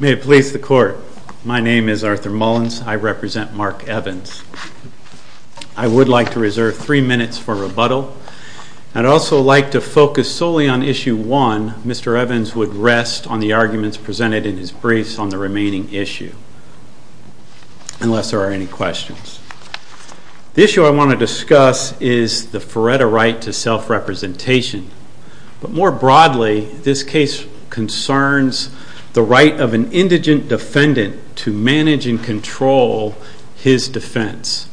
May it please the court. My name is Arthur Mullins. I represent Mark Evans. I would like to reserve three minutes for rebuttal. I'd also like to focus solely on Issue 1. Mr. Evans would rest on the arguments presented in his briefs on the remaining issue, unless there are any questions. The issue I want to discuss is the Feretta right to self-representation, but more broadly this case concerns the right of an indigent defendant to manage and control his defense.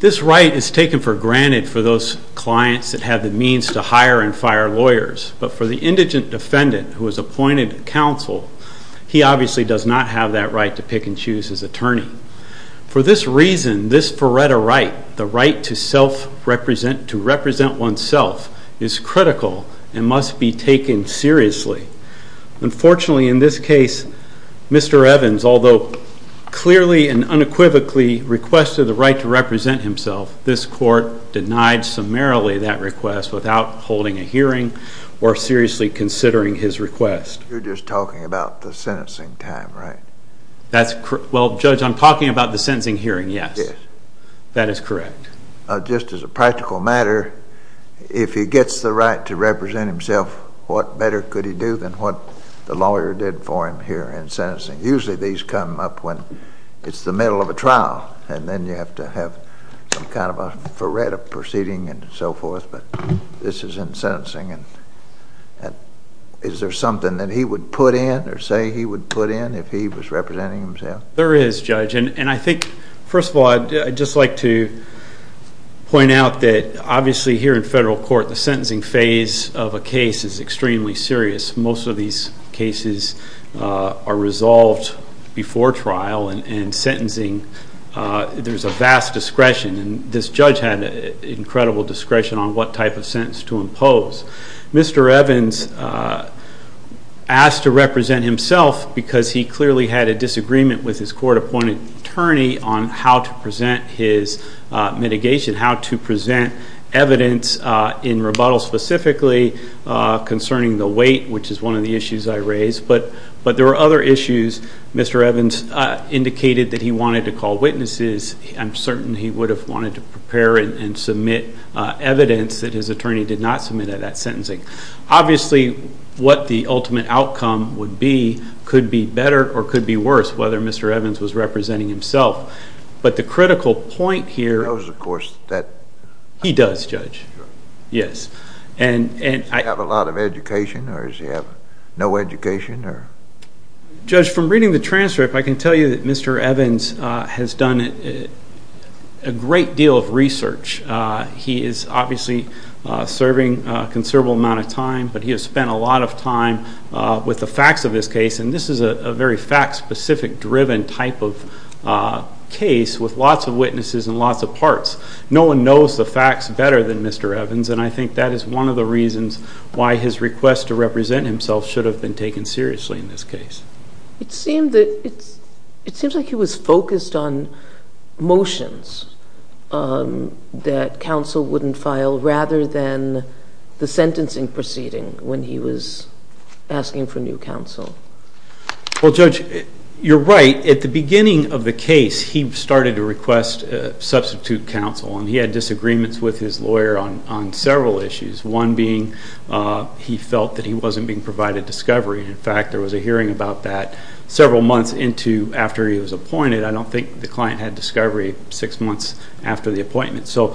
This right is taken for granted for those clients that have the means to hire and fire lawyers, but for the indigent defendant who was appointed counsel, he obviously does not have that right to pick and choose his attorney. For this reason, this Feretta right, the right to self-represent, to represent oneself, is critical and must be taken seriously. Unfortunately in this case, Mr. Evans, although clearly and unequivocally requested the right to represent himself, this court denied summarily that request without holding a hearing or seriously considering his request. You're just talking about the sentencing time, right? That's correct. Well Judge, I'm talking about the sentencing hearing, yes. That is correct. Just as a practical matter, if he gets the right to represent himself, what better could he do than what the lawyer did for him here in sentencing? Usually these come up when it's the middle of a trial and then you have to have some kind of a Feretta proceeding and so forth, but this is in sentencing and is there something that he would put in or say he would put in if he was representing himself? There is, Judge, and I think first of all I'd just like to point out that obviously here in federal court the sentencing phase of a case is extremely serious. Most of these cases are resolved before trial and in sentencing there's a vast discretion and this judge had incredible discretion on what type of sentence to impose. Mr. Evans asked to represent himself because he clearly had a disagreement with his court-appointed attorney on how to present his mitigation, how to present evidence in rebuttal specifically concerning the weight, which is one of the issues I raised, but there were other issues. Mr. Evans indicated that he wanted to call witnesses. I'm certain he would have wanted to prepare and submit evidence that his attorney did not submit at that sentencing. Obviously what the ultimate outcome would be could be better or could be worse whether Mr. Evans was representing himself, but the critical point here... He knows, of course, that... He does, Judge. Yes, and... Does he have a lot of education or does he have no education? Judge, from reading the transcript I can tell you that Mr. Evans has done a great deal of research. He is obviously serving a considerable amount of time, but he has spent a lot of time with the facts of this case and this is a very fact-specific driven type of case with lots of witnesses and lots of parts. No one knows the facts better than Mr. Evans and I think that is one of the reasons why his request to represent himself should have been taken seriously in this case. It seemed that... It seems like he was focused on motions that counsel wouldn't file rather than the sentencing proceeding when he was asking for new counsel. Well, Judge, you're right. At the beginning of the case he started to request substitute counsel and he had disagreements with his lawyer on several issues. One being he felt that he wasn't being provided discovery. In fact, there was a hearing about that several months into after he was appointed. I don't think the client had discovery six months after the appointment. So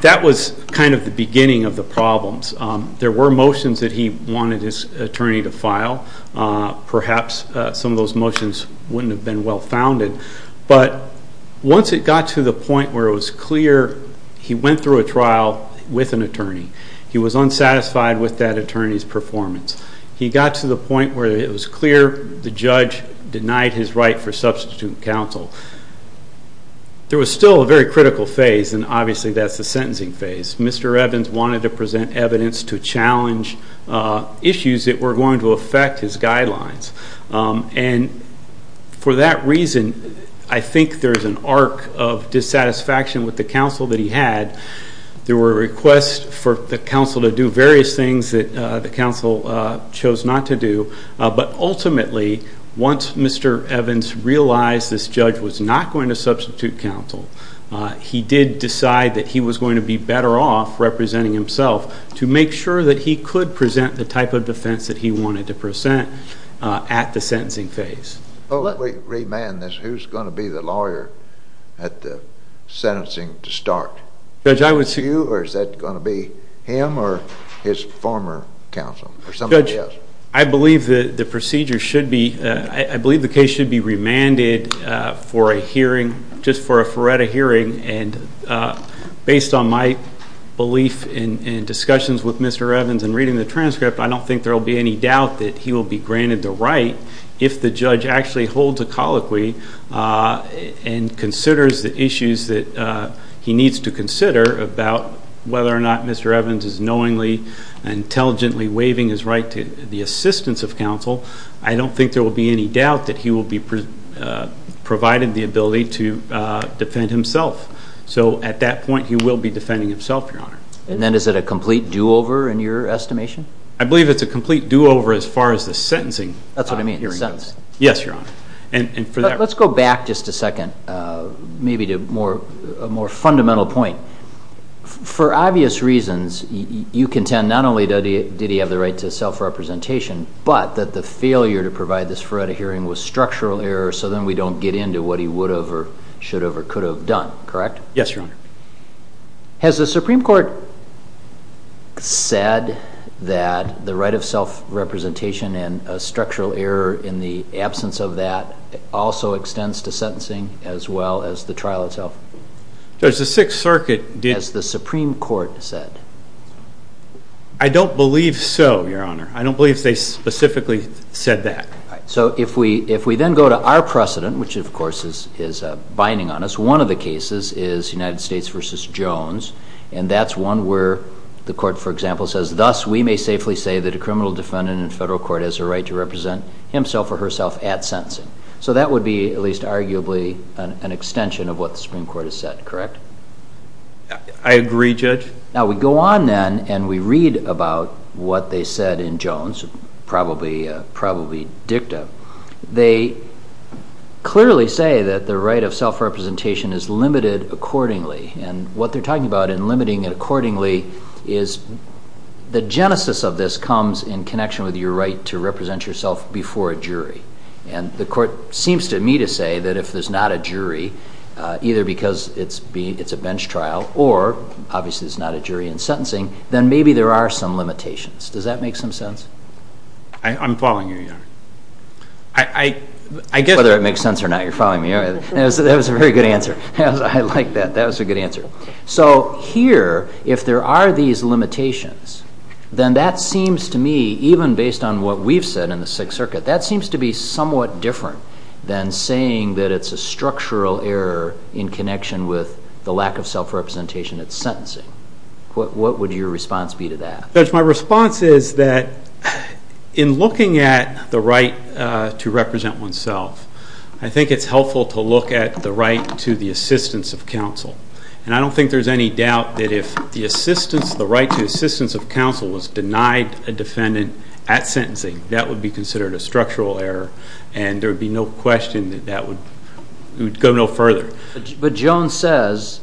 that was kind of the beginning of the problems. There were motions that he wanted his attorney to file. Perhaps some of those motions wouldn't have been well-founded, but once it got to the point where it was clear he went through a trial with an attorney, he was unsatisfied with that attorney's performance. He got to the point where it was clear the judge denied his right for a very critical phase, and obviously that's the sentencing phase. Mr. Evans wanted to present evidence to challenge issues that were going to affect his guidelines. And for that reason, I think there's an arc of dissatisfaction with the counsel that he had. There were requests for the counsel to do various things that the counsel chose not to do. But ultimately, once Mr. Evans realized this judge was not going to he did decide that he was going to be better off representing himself to make sure that he could present the type of defense that he wanted to present at the sentencing phase. Let me remand this. Who's going to be the lawyer at the sentencing to start? Judge, I would... You or is that going to be him or his former counsel or somebody else? I believe that the procedure should be... I believe the case should be remanded for a hearing, just for a FRERETA hearing. And based on my belief in discussions with Mr. Evans and reading the transcript, I don't think there will be any doubt that he will be granted the right if the judge actually holds a colloquy and considers the issues that he needs to consider about whether or not Mr. Evans is knowingly and intelligently waiving his right to the assistance of counsel, I don't think there will be any doubt that he will be provided the ability to defend himself. So at that point, he will be defending himself, Your Honor. And then is it a complete do-over in your estimation? I believe it's a complete do-over as far as the sentencing... That's what I mean, the sentence. Yes, Your Honor. And for that... Let's go back just a second, maybe to a more fundamental point. For obvious reasons, you contend not only did he have the right to self-representation, but that the failure to provide this FRERETA hearing was structural error, so then we don't get into what he would have or should have or could have done, correct? Yes, Your Honor. Has the Supreme Court said that the right of self-representation and a structural error in the absence of that also extends to sentencing as well as the trial itself? Judge, the Sixth Circuit did... Has the Supreme Court said? I don't believe so, Your Honor. I don't believe they specifically said that. So if we then go to our precedent, which of course is binding on us, one of the cases is United States v. Jones, and that's one where the court, for example, says, thus we may safely say that a criminal defendant in federal court has a right to represent himself or herself at sentencing. So that would be, at least arguably, an extension of what the Supreme Court has said, correct? I agree, Judge. Now we go on then and we read about what they said in Jones, probably dicta. They clearly say that the right of self-representation is limited accordingly, and what they're talking about in limiting it accordingly is the genesis of this comes in connection with your right to represent yourself before a jury. And the court seems to me to say that if there's not a jury, either because it's a bench trial or obviously there's not a jury in sentencing, then maybe there are some limitations. Does that make some sense? I'm following you, Your Honor. Whether it makes sense or not, you're following me. That was a very good answer. I like that. That was a good answer. So here, if there are these limitations, then that seems to me, even based on what we've said in the Sixth Circuit, that seems to be somewhat different than saying that it's a structural error in connection with the lack of self-representation at sentencing. What would your response be to that? Judge, my response is that in looking at the right to represent oneself, I think it's helpful to look at the right to the assistance of counsel. And I don't think there's any doubt that if the assistance, the right to assistance of counsel was denied a defendant at sentencing, that would be considered a structural error. And there would be no question that that would go no further. But Jones says,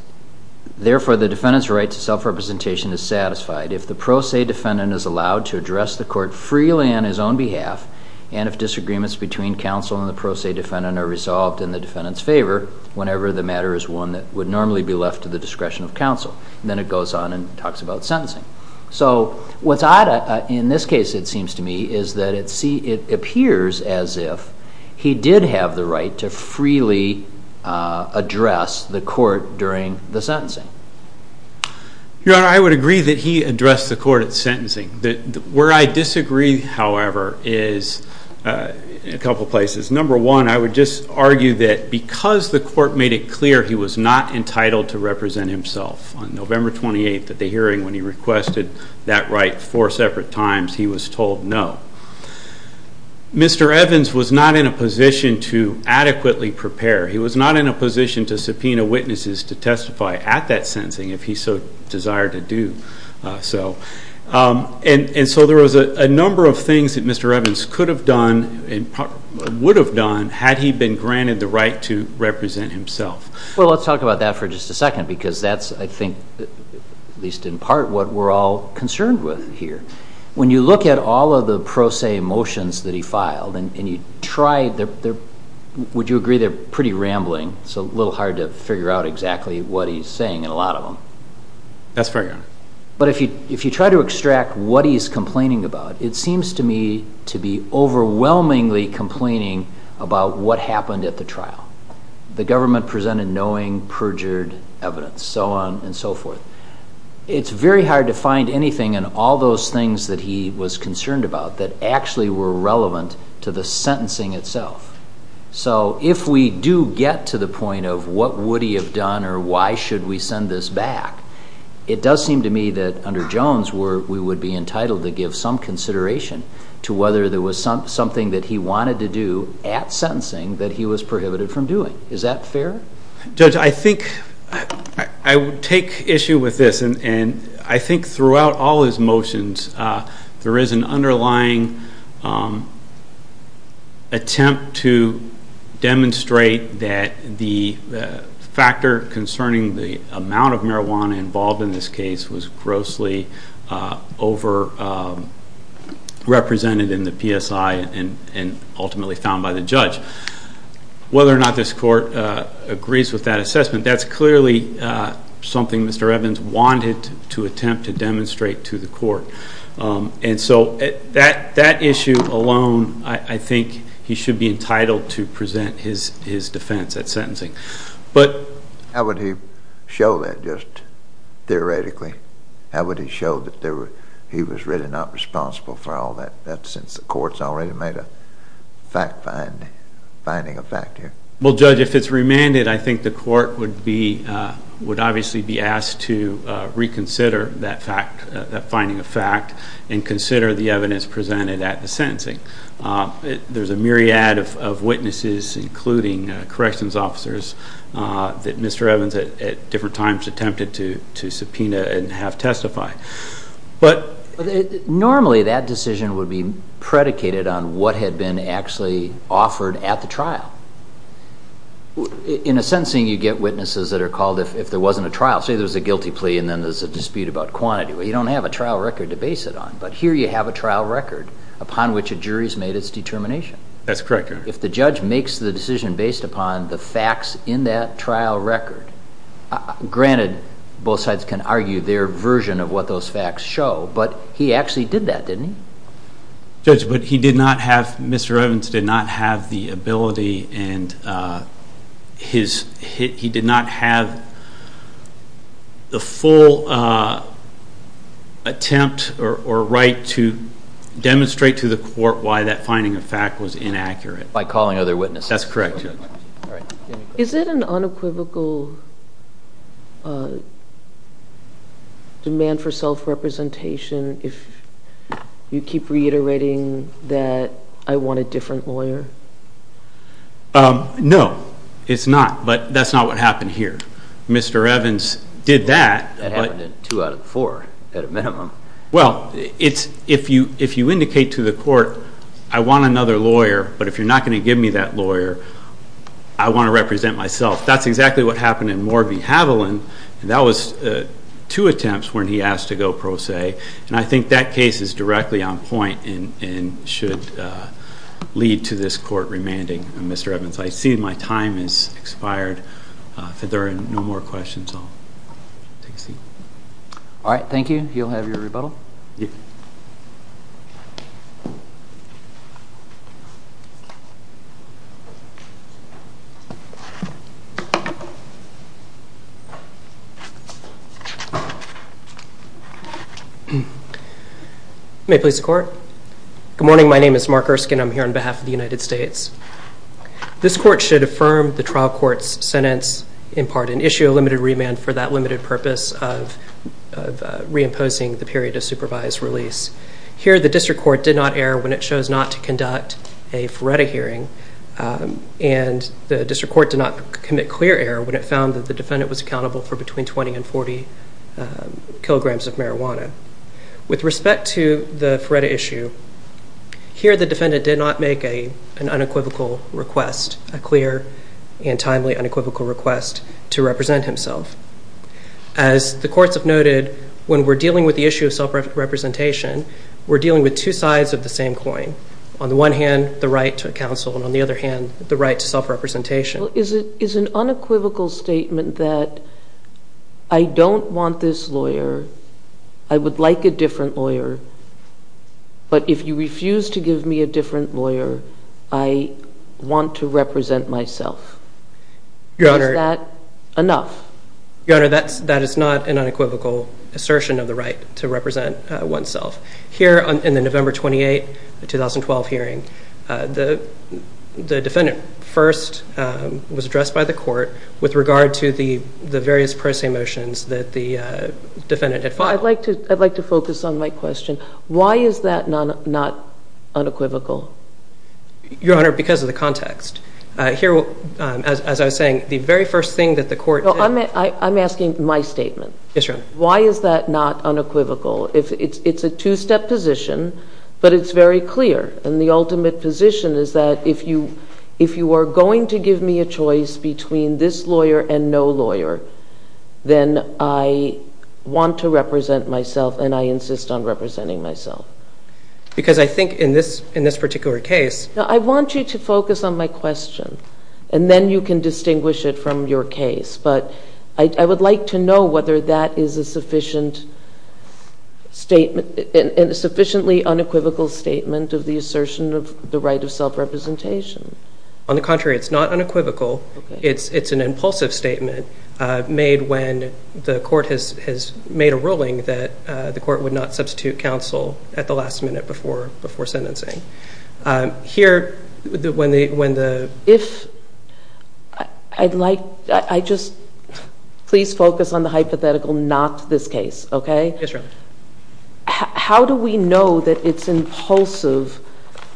therefore, the defendant's right to self-representation is satisfied if the pro se defendant is allowed to address the court freely on his own behalf and if disagreements between counsel and the pro se defendant are resolved in the defendant's favor whenever the matter is one that would normally be left to the discretion of counsel. Then it goes on and talks about sentencing. So what's odd in this case, it seems to me, is that it appears as if he did have the right to freely address the court during the sentencing. Your Honor, I would agree that he addressed the court at sentencing. Where I disagree, however, is a couple places. Number one, I would just argue that because the court made it clear he was not entitled to represent himself on November 28th at the hearing when he requested that right four separate times, he was told no. Mr. Evans was not in a position to adequately prepare. He was not in a position to subpoena witnesses to testify at that sentencing if he so desired to do so. And so there was a number of things that Mr. Evans could have done and would have done had he been granted the right to represent himself. Well, let's talk about that for just a second because that's, I think, at least in part, what we're all concerned with here. When you look at all of the pro se motions that he filed and you try, would you agree they're pretty rambling? It's a little hard to figure out exactly what he's saying in a lot of them. That's fair, Your Honor. But if you try to extract what he's complaining about, it seems to me to be overwhelmingly complaining about what happened at the trial. The government presented knowing, perjured evidence, so on and so forth. It's very hard to find anything in all those things that he was concerned about that actually were relevant to the sentencing itself. So if we do get to the point of what would he have done or why should we send this back, it does seem to me that under Jones we would be entitled to give some consideration to whether there was something that he wanted to do at sentencing that he was prohibited from doing. Is that fair? Judge, I think I would take issue with this. And I think throughout all his motions there is an underlying attempt to demonstrate that the factor concerning the amount of marijuana involved in this case was grossly over-represented in the PSI and ultimately found by the judge. Whether or not this court agrees with that assessment, that's clearly something Mr. Evans wanted to attempt to demonstrate to the court. And so that issue alone, I think he should be entitled to present his defense at sentencing. How would he show that just theoretically? How would he show that he was really not responsible for all that since the court's already made a finding of fact here? Well, Judge, if it's remanded, I think the court would obviously be asked to reconsider that finding of fact and consider the evidence presented at the sentencing. There's a myriad of witnesses, including corrections officers, that Mr. Evans at different times attempted to subpoena and have testify. Normally that decision would be predicated on what had been actually offered at the trial. In a sentencing you get witnesses that are called if there wasn't a trial. Say there's a guilty plea and then there's a dispute about quantity. You don't have a trial record to base it on, but here you have a trial record upon which a jury's made its determination. That's correct, Your Honor. If the judge makes the decision based upon the facts in that trial record, granted both sides can argue their version of what those facts show, but he actually did that, didn't he? Judge, but he did not have, Mr. Evans did not have the ability and he did not have the full attempt or right to demonstrate to the court why that finding of fact was inaccurate. By calling other witnesses. Is it an unequivocal demand for self-representation if you keep reiterating that I want a different lawyer? No, it's not, but that's not what happened here. Mr. Evans did that. That happened in two out of four at a minimum. Well, if you indicate to the court, I want another lawyer, but if you're not going to give me that lawyer, I want to represent myself. That's exactly what happened in Morby-Haviland, and that was two attempts when he asked to go pro se, and I think that case is directly on point and should lead to this court remanding. Mr. Evans, I see my time has expired. If there are no more questions, I'll take a seat. All right. Thank you. You'll have your rebuttal. May it please the court. Good morning. My name is Mark Erskine. I'm here on behalf of the United States. This court should affirm the trial court's sentence in part and issue a limited remand for that limited purpose of reimposing the period of supervised release. Here, the district court did not err when it chose not to conduct a FRERTA hearing, and the district court did not commit clear error when it found that the defendant was accountable for between 20 and 40 kilograms of marijuana. With respect to the FRERTA issue, here the defendant did not make an unequivocal request, a clear and timely unequivocal request to represent himself. As the courts have noted, when we're dealing with the issue of self-representation, we're dealing with two sides of the same coin. On the one hand, the right to counsel, and on the other hand, the right to self-representation. Is an unequivocal statement that I don't want this lawyer, I would like a different lawyer, but if you refuse to give me a different lawyer, I want to represent myself, is that enough? Your Honor, that is not an unequivocal assertion of the right to represent oneself. Here in the November 28, 2012 hearing, the defendant first was addressed by the court with regard to the various pro se motions that the defendant had filed. I'd like to focus on my question. Why is that not unequivocal? Your Honor, because of the context. Here, as I was saying, the very first thing that the court did... I'm asking my statement. Yes, Your Honor. Why is that not unequivocal? It's a two-step position, but it's very clear. And the ultimate position is that if you are going to give me a choice between this lawyer and no lawyer, then I want to represent myself, and I insist on representing myself. Because I think in this particular case... I want you to focus on my question, and then you can distinguish it from your case. But I would like to know whether that is a sufficiently unequivocal statement of the assertion of the right of self-representation. On the contrary, it's not unequivocal. It's an impulsive statement made when the court has made a ruling that the court would not substitute counsel at the last minute before sentencing. Here, when the... If... I'd like... I just... Please focus on the hypothetical, not this case, okay? Yes, Your Honor. How do we know that it's impulsive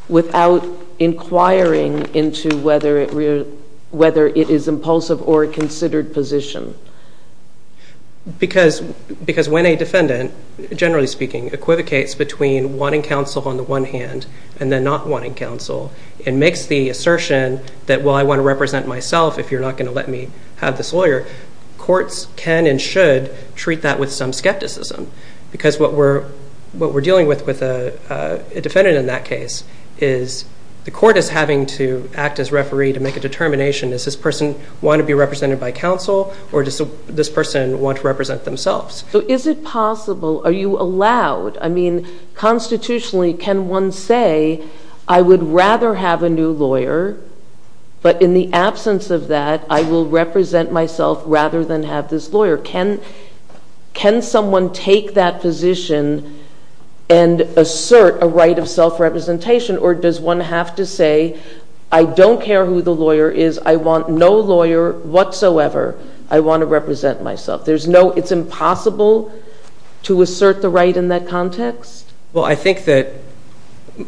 without inquiring into whether it is impulsive or a considered position? Because when a defendant, generally speaking, equivocates between wanting counsel on the one hand and then not wanting counsel, and makes the assertion that, well, I want to represent myself if you're not going to let me have this lawyer, courts can and should treat that with some skepticism. Because what we're dealing with with a defendant in that case is the court is having to act as referee to make a determination. Does this person want to be represented by counsel, or does this person want to represent themselves? So is it possible? Are you allowed? I mean, constitutionally, can one say, I would rather have a new lawyer, but in the absence of that, I will represent myself rather than have this lawyer. Can someone take that position and assert a right of self-representation, or does one have to say, I don't care who the lawyer is, I want no lawyer whatsoever, I want to represent myself. It's impossible to assert the right in that context? Well, I think that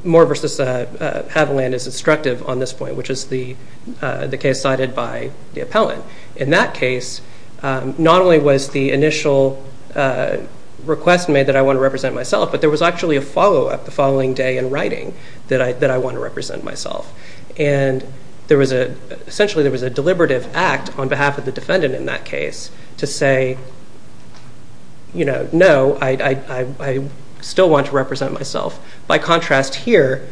Moore v. Avaland is instructive on this point, which is the case cited by the appellant. In that case, not only was the initial request made that I want to represent myself, but there was actually a follow-up the following day in writing that I want to represent myself. And essentially there was a deliberative act on behalf of the defendant in that case to say, you know, no, I still want to represent myself. By contrast here,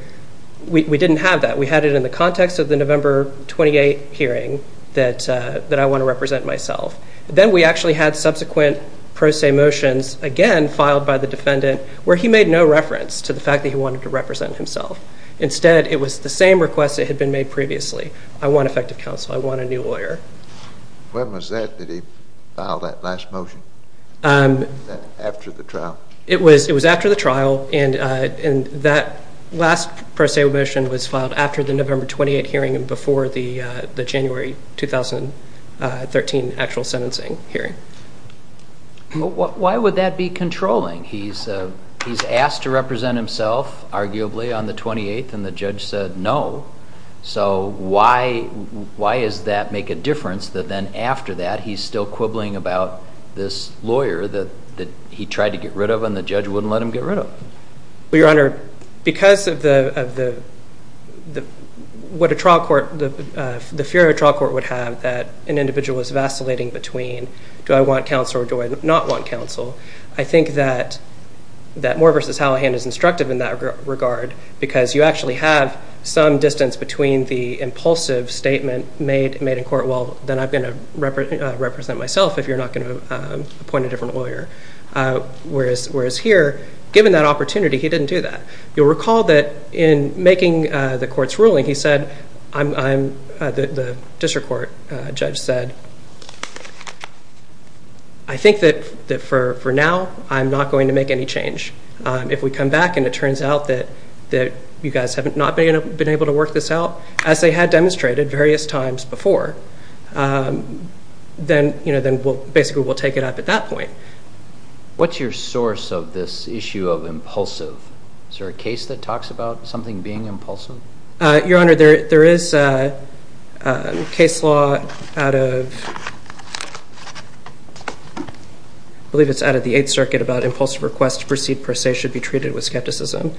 we didn't have that. We had it in the context of the November 28 hearing that I want to represent myself. Then we actually had subsequent pro se motions again filed by the defendant where he made no reference to the fact that he wanted to represent himself. Instead, it was the same request that had been made previously. I want effective counsel. I want a new lawyer. When was that? Did he file that last motion after the trial? It was after the trial, and that last pro se motion was filed after the November 28 hearing and before the January 2013 actual sentencing hearing. Why would that be controlling? He's asked to represent himself, arguably, on the 28th, and the judge said no. So why does that make a difference that then after that he's still quibbling about this lawyer that he tried to get rid of and the judge wouldn't let him get rid of? Well, Your Honor, because of the fear a trial court would have that an individual was vacillating between do I want counsel or do I not want counsel, I think that Moore v. Hallihan is instructive in that regard because you actually have some distance between the impulsive statement made in court, well, then I'm going to represent myself if you're not going to appoint a different lawyer, whereas here, given that opportunity, he didn't do that. You'll recall that in making the court's ruling, the district court judge said, I think that for now I'm not going to make any change. If we come back and it turns out that you guys have not been able to work this out, as they had demonstrated various times before, then basically we'll take it up at that point. What's your source of this issue of impulsive? Is there a case that talks about something being impulsive? Your Honor, there is a case law out of, I believe it's out of the Eighth Circuit, about impulsive requests to proceed per se should be treated with skepticism.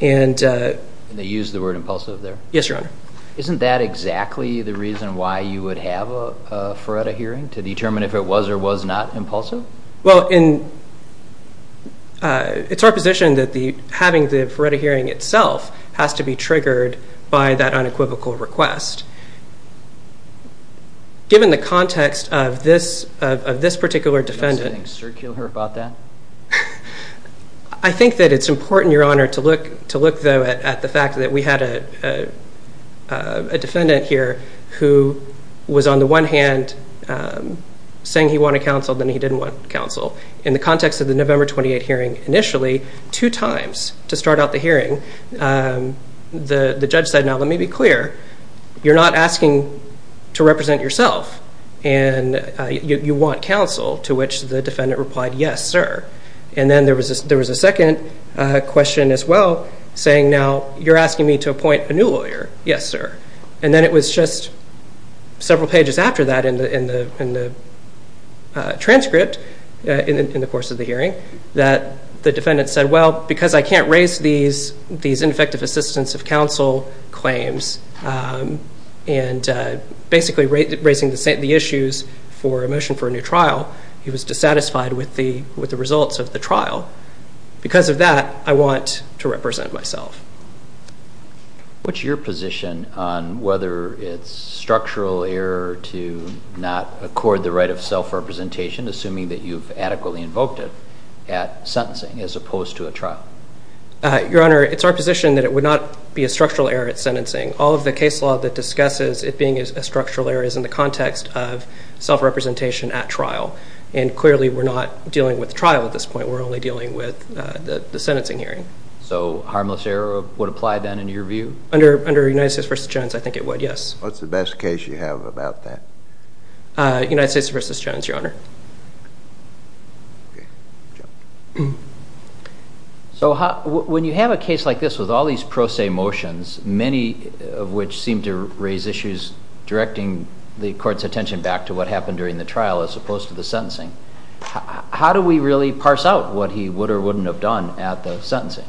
And they use the word impulsive there? Yes, Your Honor. Isn't that exactly the reason why you would have a FARETA hearing, to determine if it was or was not impulsive? It's our position that having the FARETA hearing itself has to be triggered by that unequivocal request. Given the context of this particular defendant. Is there anything circular about that? I think that it's important, Your Honor, to look, though, at the fact that we had a defendant here who was on the one hand saying he wanted counsel, then he didn't want counsel. In the context of the November 28 hearing, initially, two times to start out the hearing, the judge said, now, let me be clear, you're not asking to represent yourself, and you want counsel, to which the defendant replied, yes, sir. And then there was a second question as well, saying, now, you're asking me to appoint a new lawyer. Yes, sir. And then it was just several pages after that in the transcript, in the course of the hearing, that the defendant said, well, because I can't raise these ineffective assistance of counsel claims, and basically raising the issues for a motion for a new trial, he was dissatisfied with the results of the trial. Because of that, I want to represent myself. What's your position on whether it's structural error to not accord the right of self-representation, assuming that you've adequately invoked it, at sentencing as opposed to a trial? Your Honor, it's our position that it would not be a structural error at sentencing. All of the case law that discusses it being a structural error is in the context of self-representation at trial. And clearly, we're not dealing with trial at this point. We're only dealing with the sentencing hearing. So harmless error would apply, then, in your view? Under United States v. Jones, I think it would, yes. What's the best case you have about that? United States v. Jones, Your Honor. So when you have a case like this with all these pro se motions, many of which seem to raise issues directing the court's attention back to what happened during the trial as opposed to the sentencing, how do we really parse out what he would or wouldn't have done at the sentencing?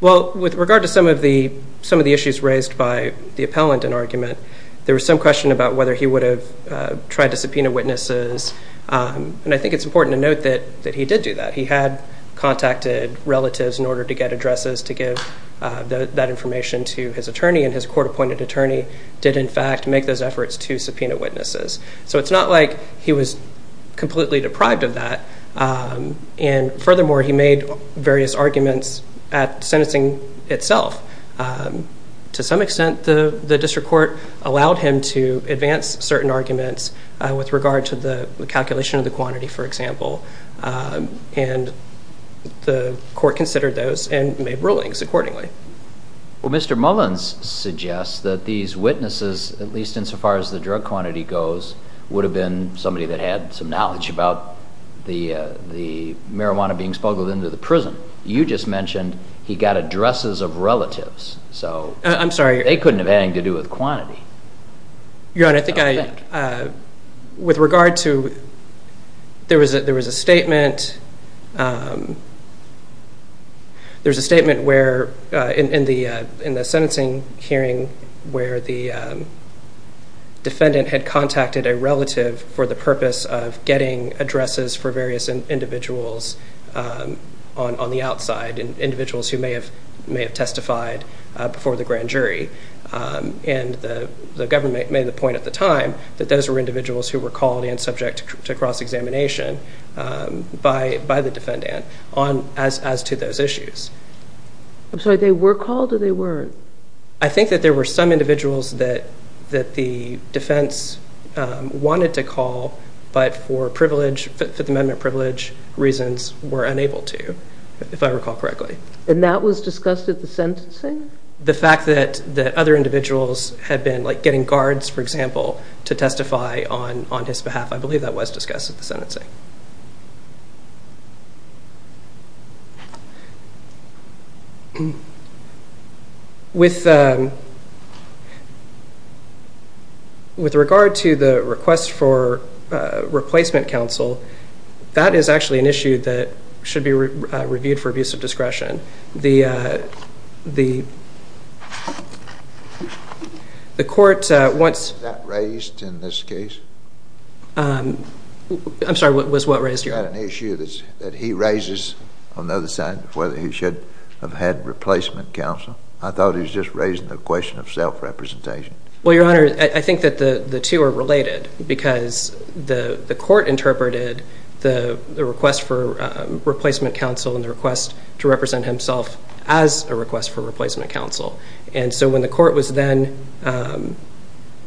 Well, with regard to some of the issues raised by the appellant in argument, there was some question about whether he would have tried to subpoena witnesses. And I think it's important to note that he did do that. He had contacted relatives in order to get addresses to give that information to his attorney, and his court-appointed attorney did, in fact, make those efforts to subpoena witnesses. So it's not like he was completely deprived of that. And furthermore, he made various arguments at sentencing itself. To some extent, the district court allowed him to advance certain arguments with regard to the calculation of the quantity, for example, and the court considered those and made rulings accordingly. Well, Mr. Mullins suggests that these witnesses, at least insofar as the drug quantity goes, would have been somebody that had some knowledge about the marijuana being smuggled into the prison. You just mentioned he got addresses of relatives. I'm sorry. They couldn't have had anything to do with quantity. Your Honor, I think with regard to there was a statement where in the sentencing hearing where the defendant had contacted a relative for the purpose of getting addresses for various individuals on the outside, individuals who may have testified before the grand jury, and the government made the point at the time that those were individuals who were called and subject to cross-examination by the defendant as to those issues. I'm sorry. They were called or they weren't? I think that there were some individuals that the defense wanted to call but for Fifth Amendment privilege reasons were unable to, if I recall correctly. And that was discussed at the sentencing? The fact that other individuals had been getting guards, for example, to testify on his behalf, I believe that was discussed at the sentencing. With regard to the request for replacement counsel, that is actually an issue that should be reviewed for abuse of discretion. Was that raised in this case? I'm sorry, what was what raised, Your Honor? Is that an issue that he raises on the other side of whether he should have had replacement counsel? I thought he was just raising the question of self-representation. Well, Your Honor, I think that the two are related because the court interpreted the request for replacement counsel and the request to represent himself as a request for replacement counsel. And so when the court was then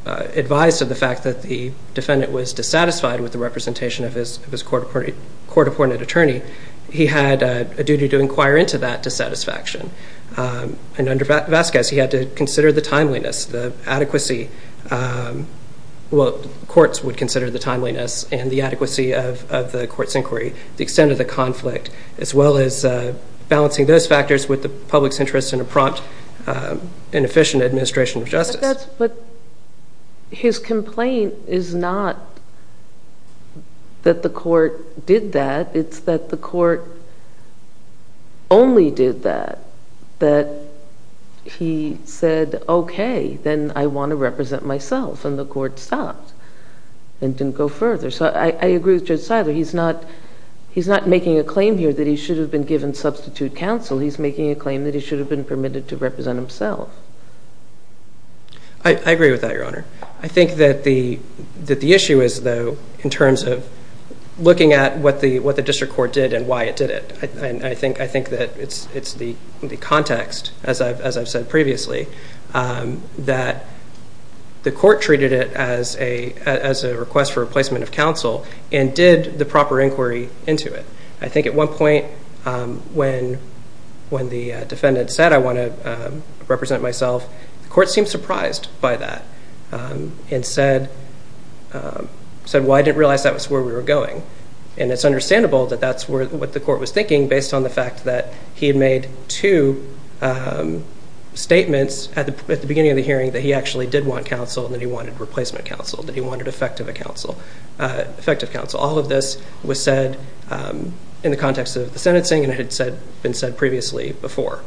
advised of the fact that the defendant was dissatisfied with the representation of his court-appointed attorney, he had a duty to inquire into that dissatisfaction. And under Vasquez, he had to consider the timeliness, the adequacy. Well, courts would consider the timeliness and the adequacy of the court's inquiry, the extent of the conflict, as well as balancing those factors with the public's interest in a prompt and efficient administration of justice. But his complaint is not that the court did that. It's that the court only did that. That he said, okay, then I want to represent myself, and the court stopped and didn't go further. So I agree with Judge Seiler. He's not making a claim here that he should have been given substitute counsel. He's making a claim that he should have been permitted to represent himself. I agree with that, Your Honor. I think that the issue is, though, in terms of looking at what the district court did and why it did it. I think that it's the context, as I've said previously, that the court treated it as a request for replacement of counsel and did the proper inquiry into it. I think at one point when the defendant said, I want to represent myself, the court seemed surprised by that and said, well, I didn't realize that was where we were going. And it's understandable that that's what the court was thinking, based on the fact that he had made two statements at the beginning of the hearing that he actually did want counsel and that he wanted replacement counsel, that he wanted effective counsel. All of this was said in the context of the sentencing, and it had been said previously before.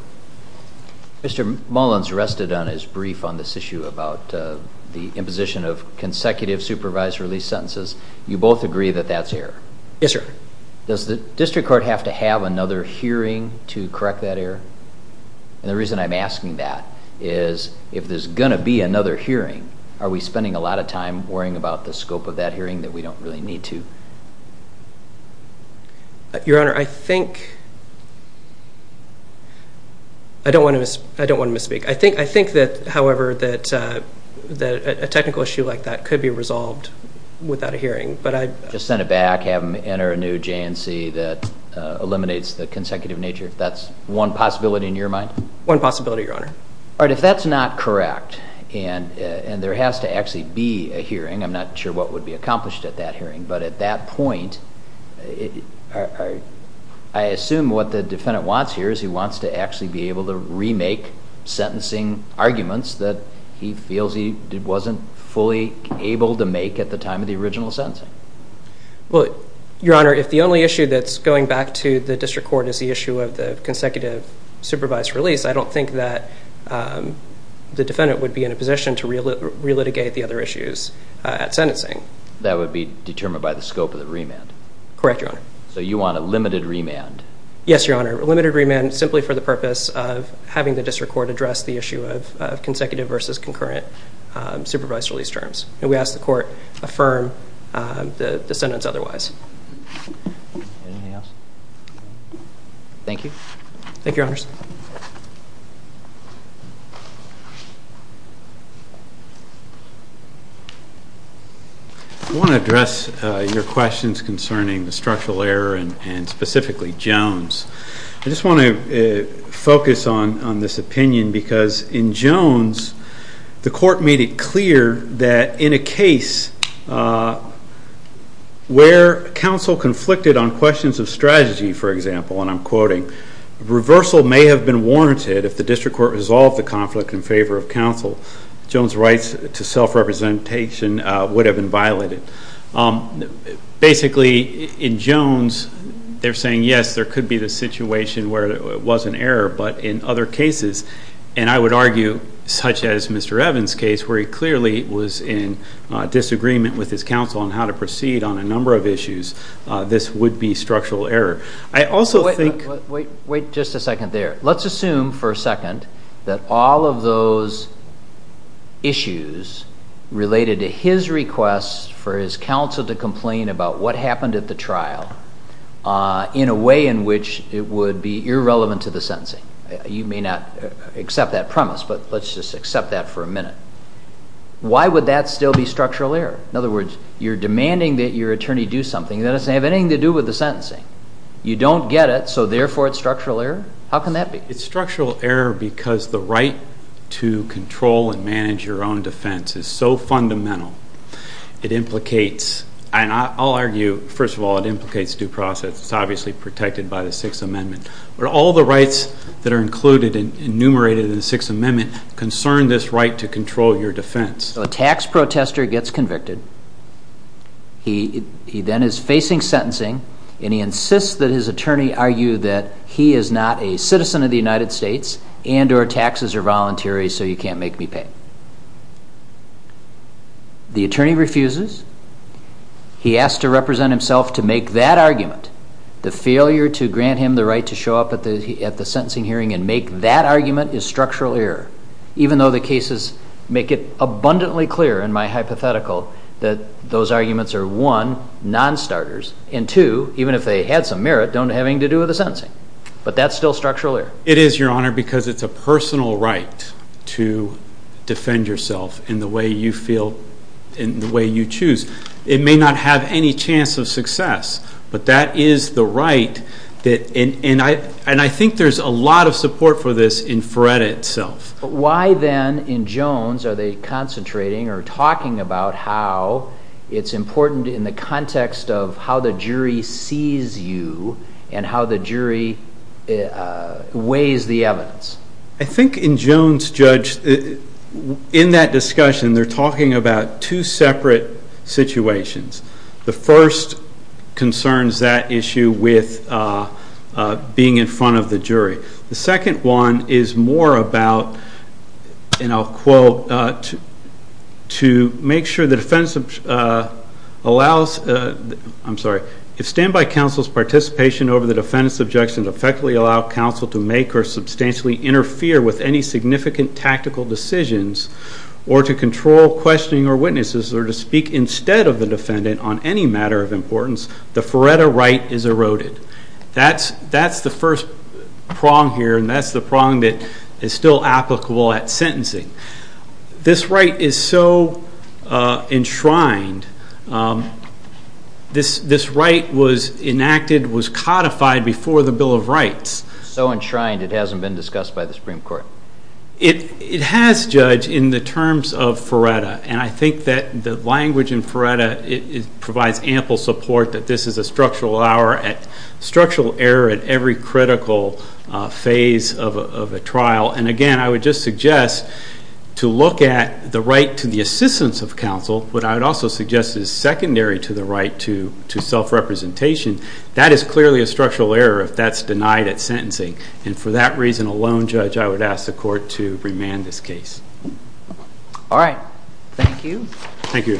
Mr. Mullins rested on his brief on this issue about the imposition of consecutive supervised release sentences. You both agree that that's error? Yes, sir. Does the district court have to have another hearing to correct that error? And the reason I'm asking that is if there's going to be another hearing, are we spending a lot of time worrying about the scope of that hearing that we don't really need to? Your Honor, I think – I don't want to misspeak. I think, however, that a technical issue like that could be resolved without a hearing. Just send it back, have them enter a new J&C that eliminates the consecutive nature, if that's one possibility in your mind? One possibility, Your Honor. All right, if that's not correct and there has to actually be a hearing, I'm not sure what would be accomplished at that hearing, but at that point, I assume what the defendant wants here is he wants to actually be able to remake sentencing arguments that he feels he wasn't fully able to make at the time of the original sentencing. Well, Your Honor, if the only issue that's going back to the district court is the issue of the consecutive supervised release, I don't think that the defendant would be in a position to relitigate the other issues at sentencing. That would be determined by the scope of the remand? Correct, Your Honor. So you want a limited remand? Yes, Your Honor, a limited remand simply for the purpose of having the district court address the issue of consecutive versus concurrent supervised release terms. And we ask the court affirm the sentence otherwise. Anything else? Thank you. Thank you, Your Honors. I want to address your questions concerning the structural error and specifically Jones. I just want to focus on this opinion because in Jones, the court made it clear that in a case where counsel conflicted on questions of strategy, for example, and I'm quoting, reversal may have been warranted if the district court resolved the conflict in favor of counsel. Jones' rights to self-representation would have been violated. Basically, in Jones, they're saying, yes, there could be the situation where it was an error, but in other cases, and I would argue such as Mr. Evans' case, where he clearly was in disagreement with his counsel on how to proceed on a number of issues, this would be structural error. I also think... Wait just a second there. Let's assume for a second that all of those issues related to his request for his counsel to complain about what happened at the trial in a way in which it would be irrelevant to the sentencing. You may not accept that premise, but let's just accept that for a minute. Why would that still be structural error? In other words, you're demanding that your attorney do something that doesn't have anything to do with the sentencing. You don't get it, so therefore it's structural error? How can that be? It's structural error because the right to control and manage your own defense is so fundamental. It implicates, and I'll argue, first of all, it implicates due process. It's obviously protected by the Sixth Amendment. But all the rights that are included and enumerated in the Sixth Amendment concern this right to control your defense. A tax protester gets convicted. He then is facing sentencing, and he insists that his attorney argue that he is not a citizen of the United States and or taxes are voluntary, so you can't make me pay. The attorney refuses. He asks to represent himself to make that argument. The failure to grant him the right to show up at the sentencing hearing and make that argument is structural error. Even though the cases make it abundantly clear in my hypothetical that those arguments are, one, non-starters, and two, even if they had some merit, don't have anything to do with the sentencing. But that's still structural error. It is, Your Honor, because it's a personal right to defend yourself in the way you feel, in the way you choose. It may not have any chance of success, but that is the right. And I think there's a lot of support for this in FREDA itself. Why, then, in Jones, are they concentrating or talking about how it's important in the context of how the jury sees you and how the jury weighs the evidence? I think in Jones, Judge, in that discussion, they're talking about two separate situations. The first concerns that issue with being in front of the jury. The second one is more about, and I'll quote, to make sure the defense allows, I'm sorry, if standby counsel's participation over the defendant's objection to effectively allow counsel to make or substantially interfere with any significant tactical decisions or to control questioning or witnesses or to speak instead of the defendant on any matter of importance, the FREDA right is eroded. That's the first prong here, and that's the prong that is still applicable at sentencing. This right is so enshrined. This right was enacted, was codified before the Bill of Rights. So enshrined it hasn't been discussed by the Supreme Court? It has, Judge, in the terms of FREDA. And I think that the language in FREDA provides ample support that this is a structural error at every critical phase of a trial. And again, I would just suggest to look at the right to the assistance of counsel. What I would also suggest is secondary to the right to self-representation. That is clearly a structural error if that's denied at sentencing. And for that reason alone, Judge, I would ask the Court to remand this case. All right. Thank you. Thank you.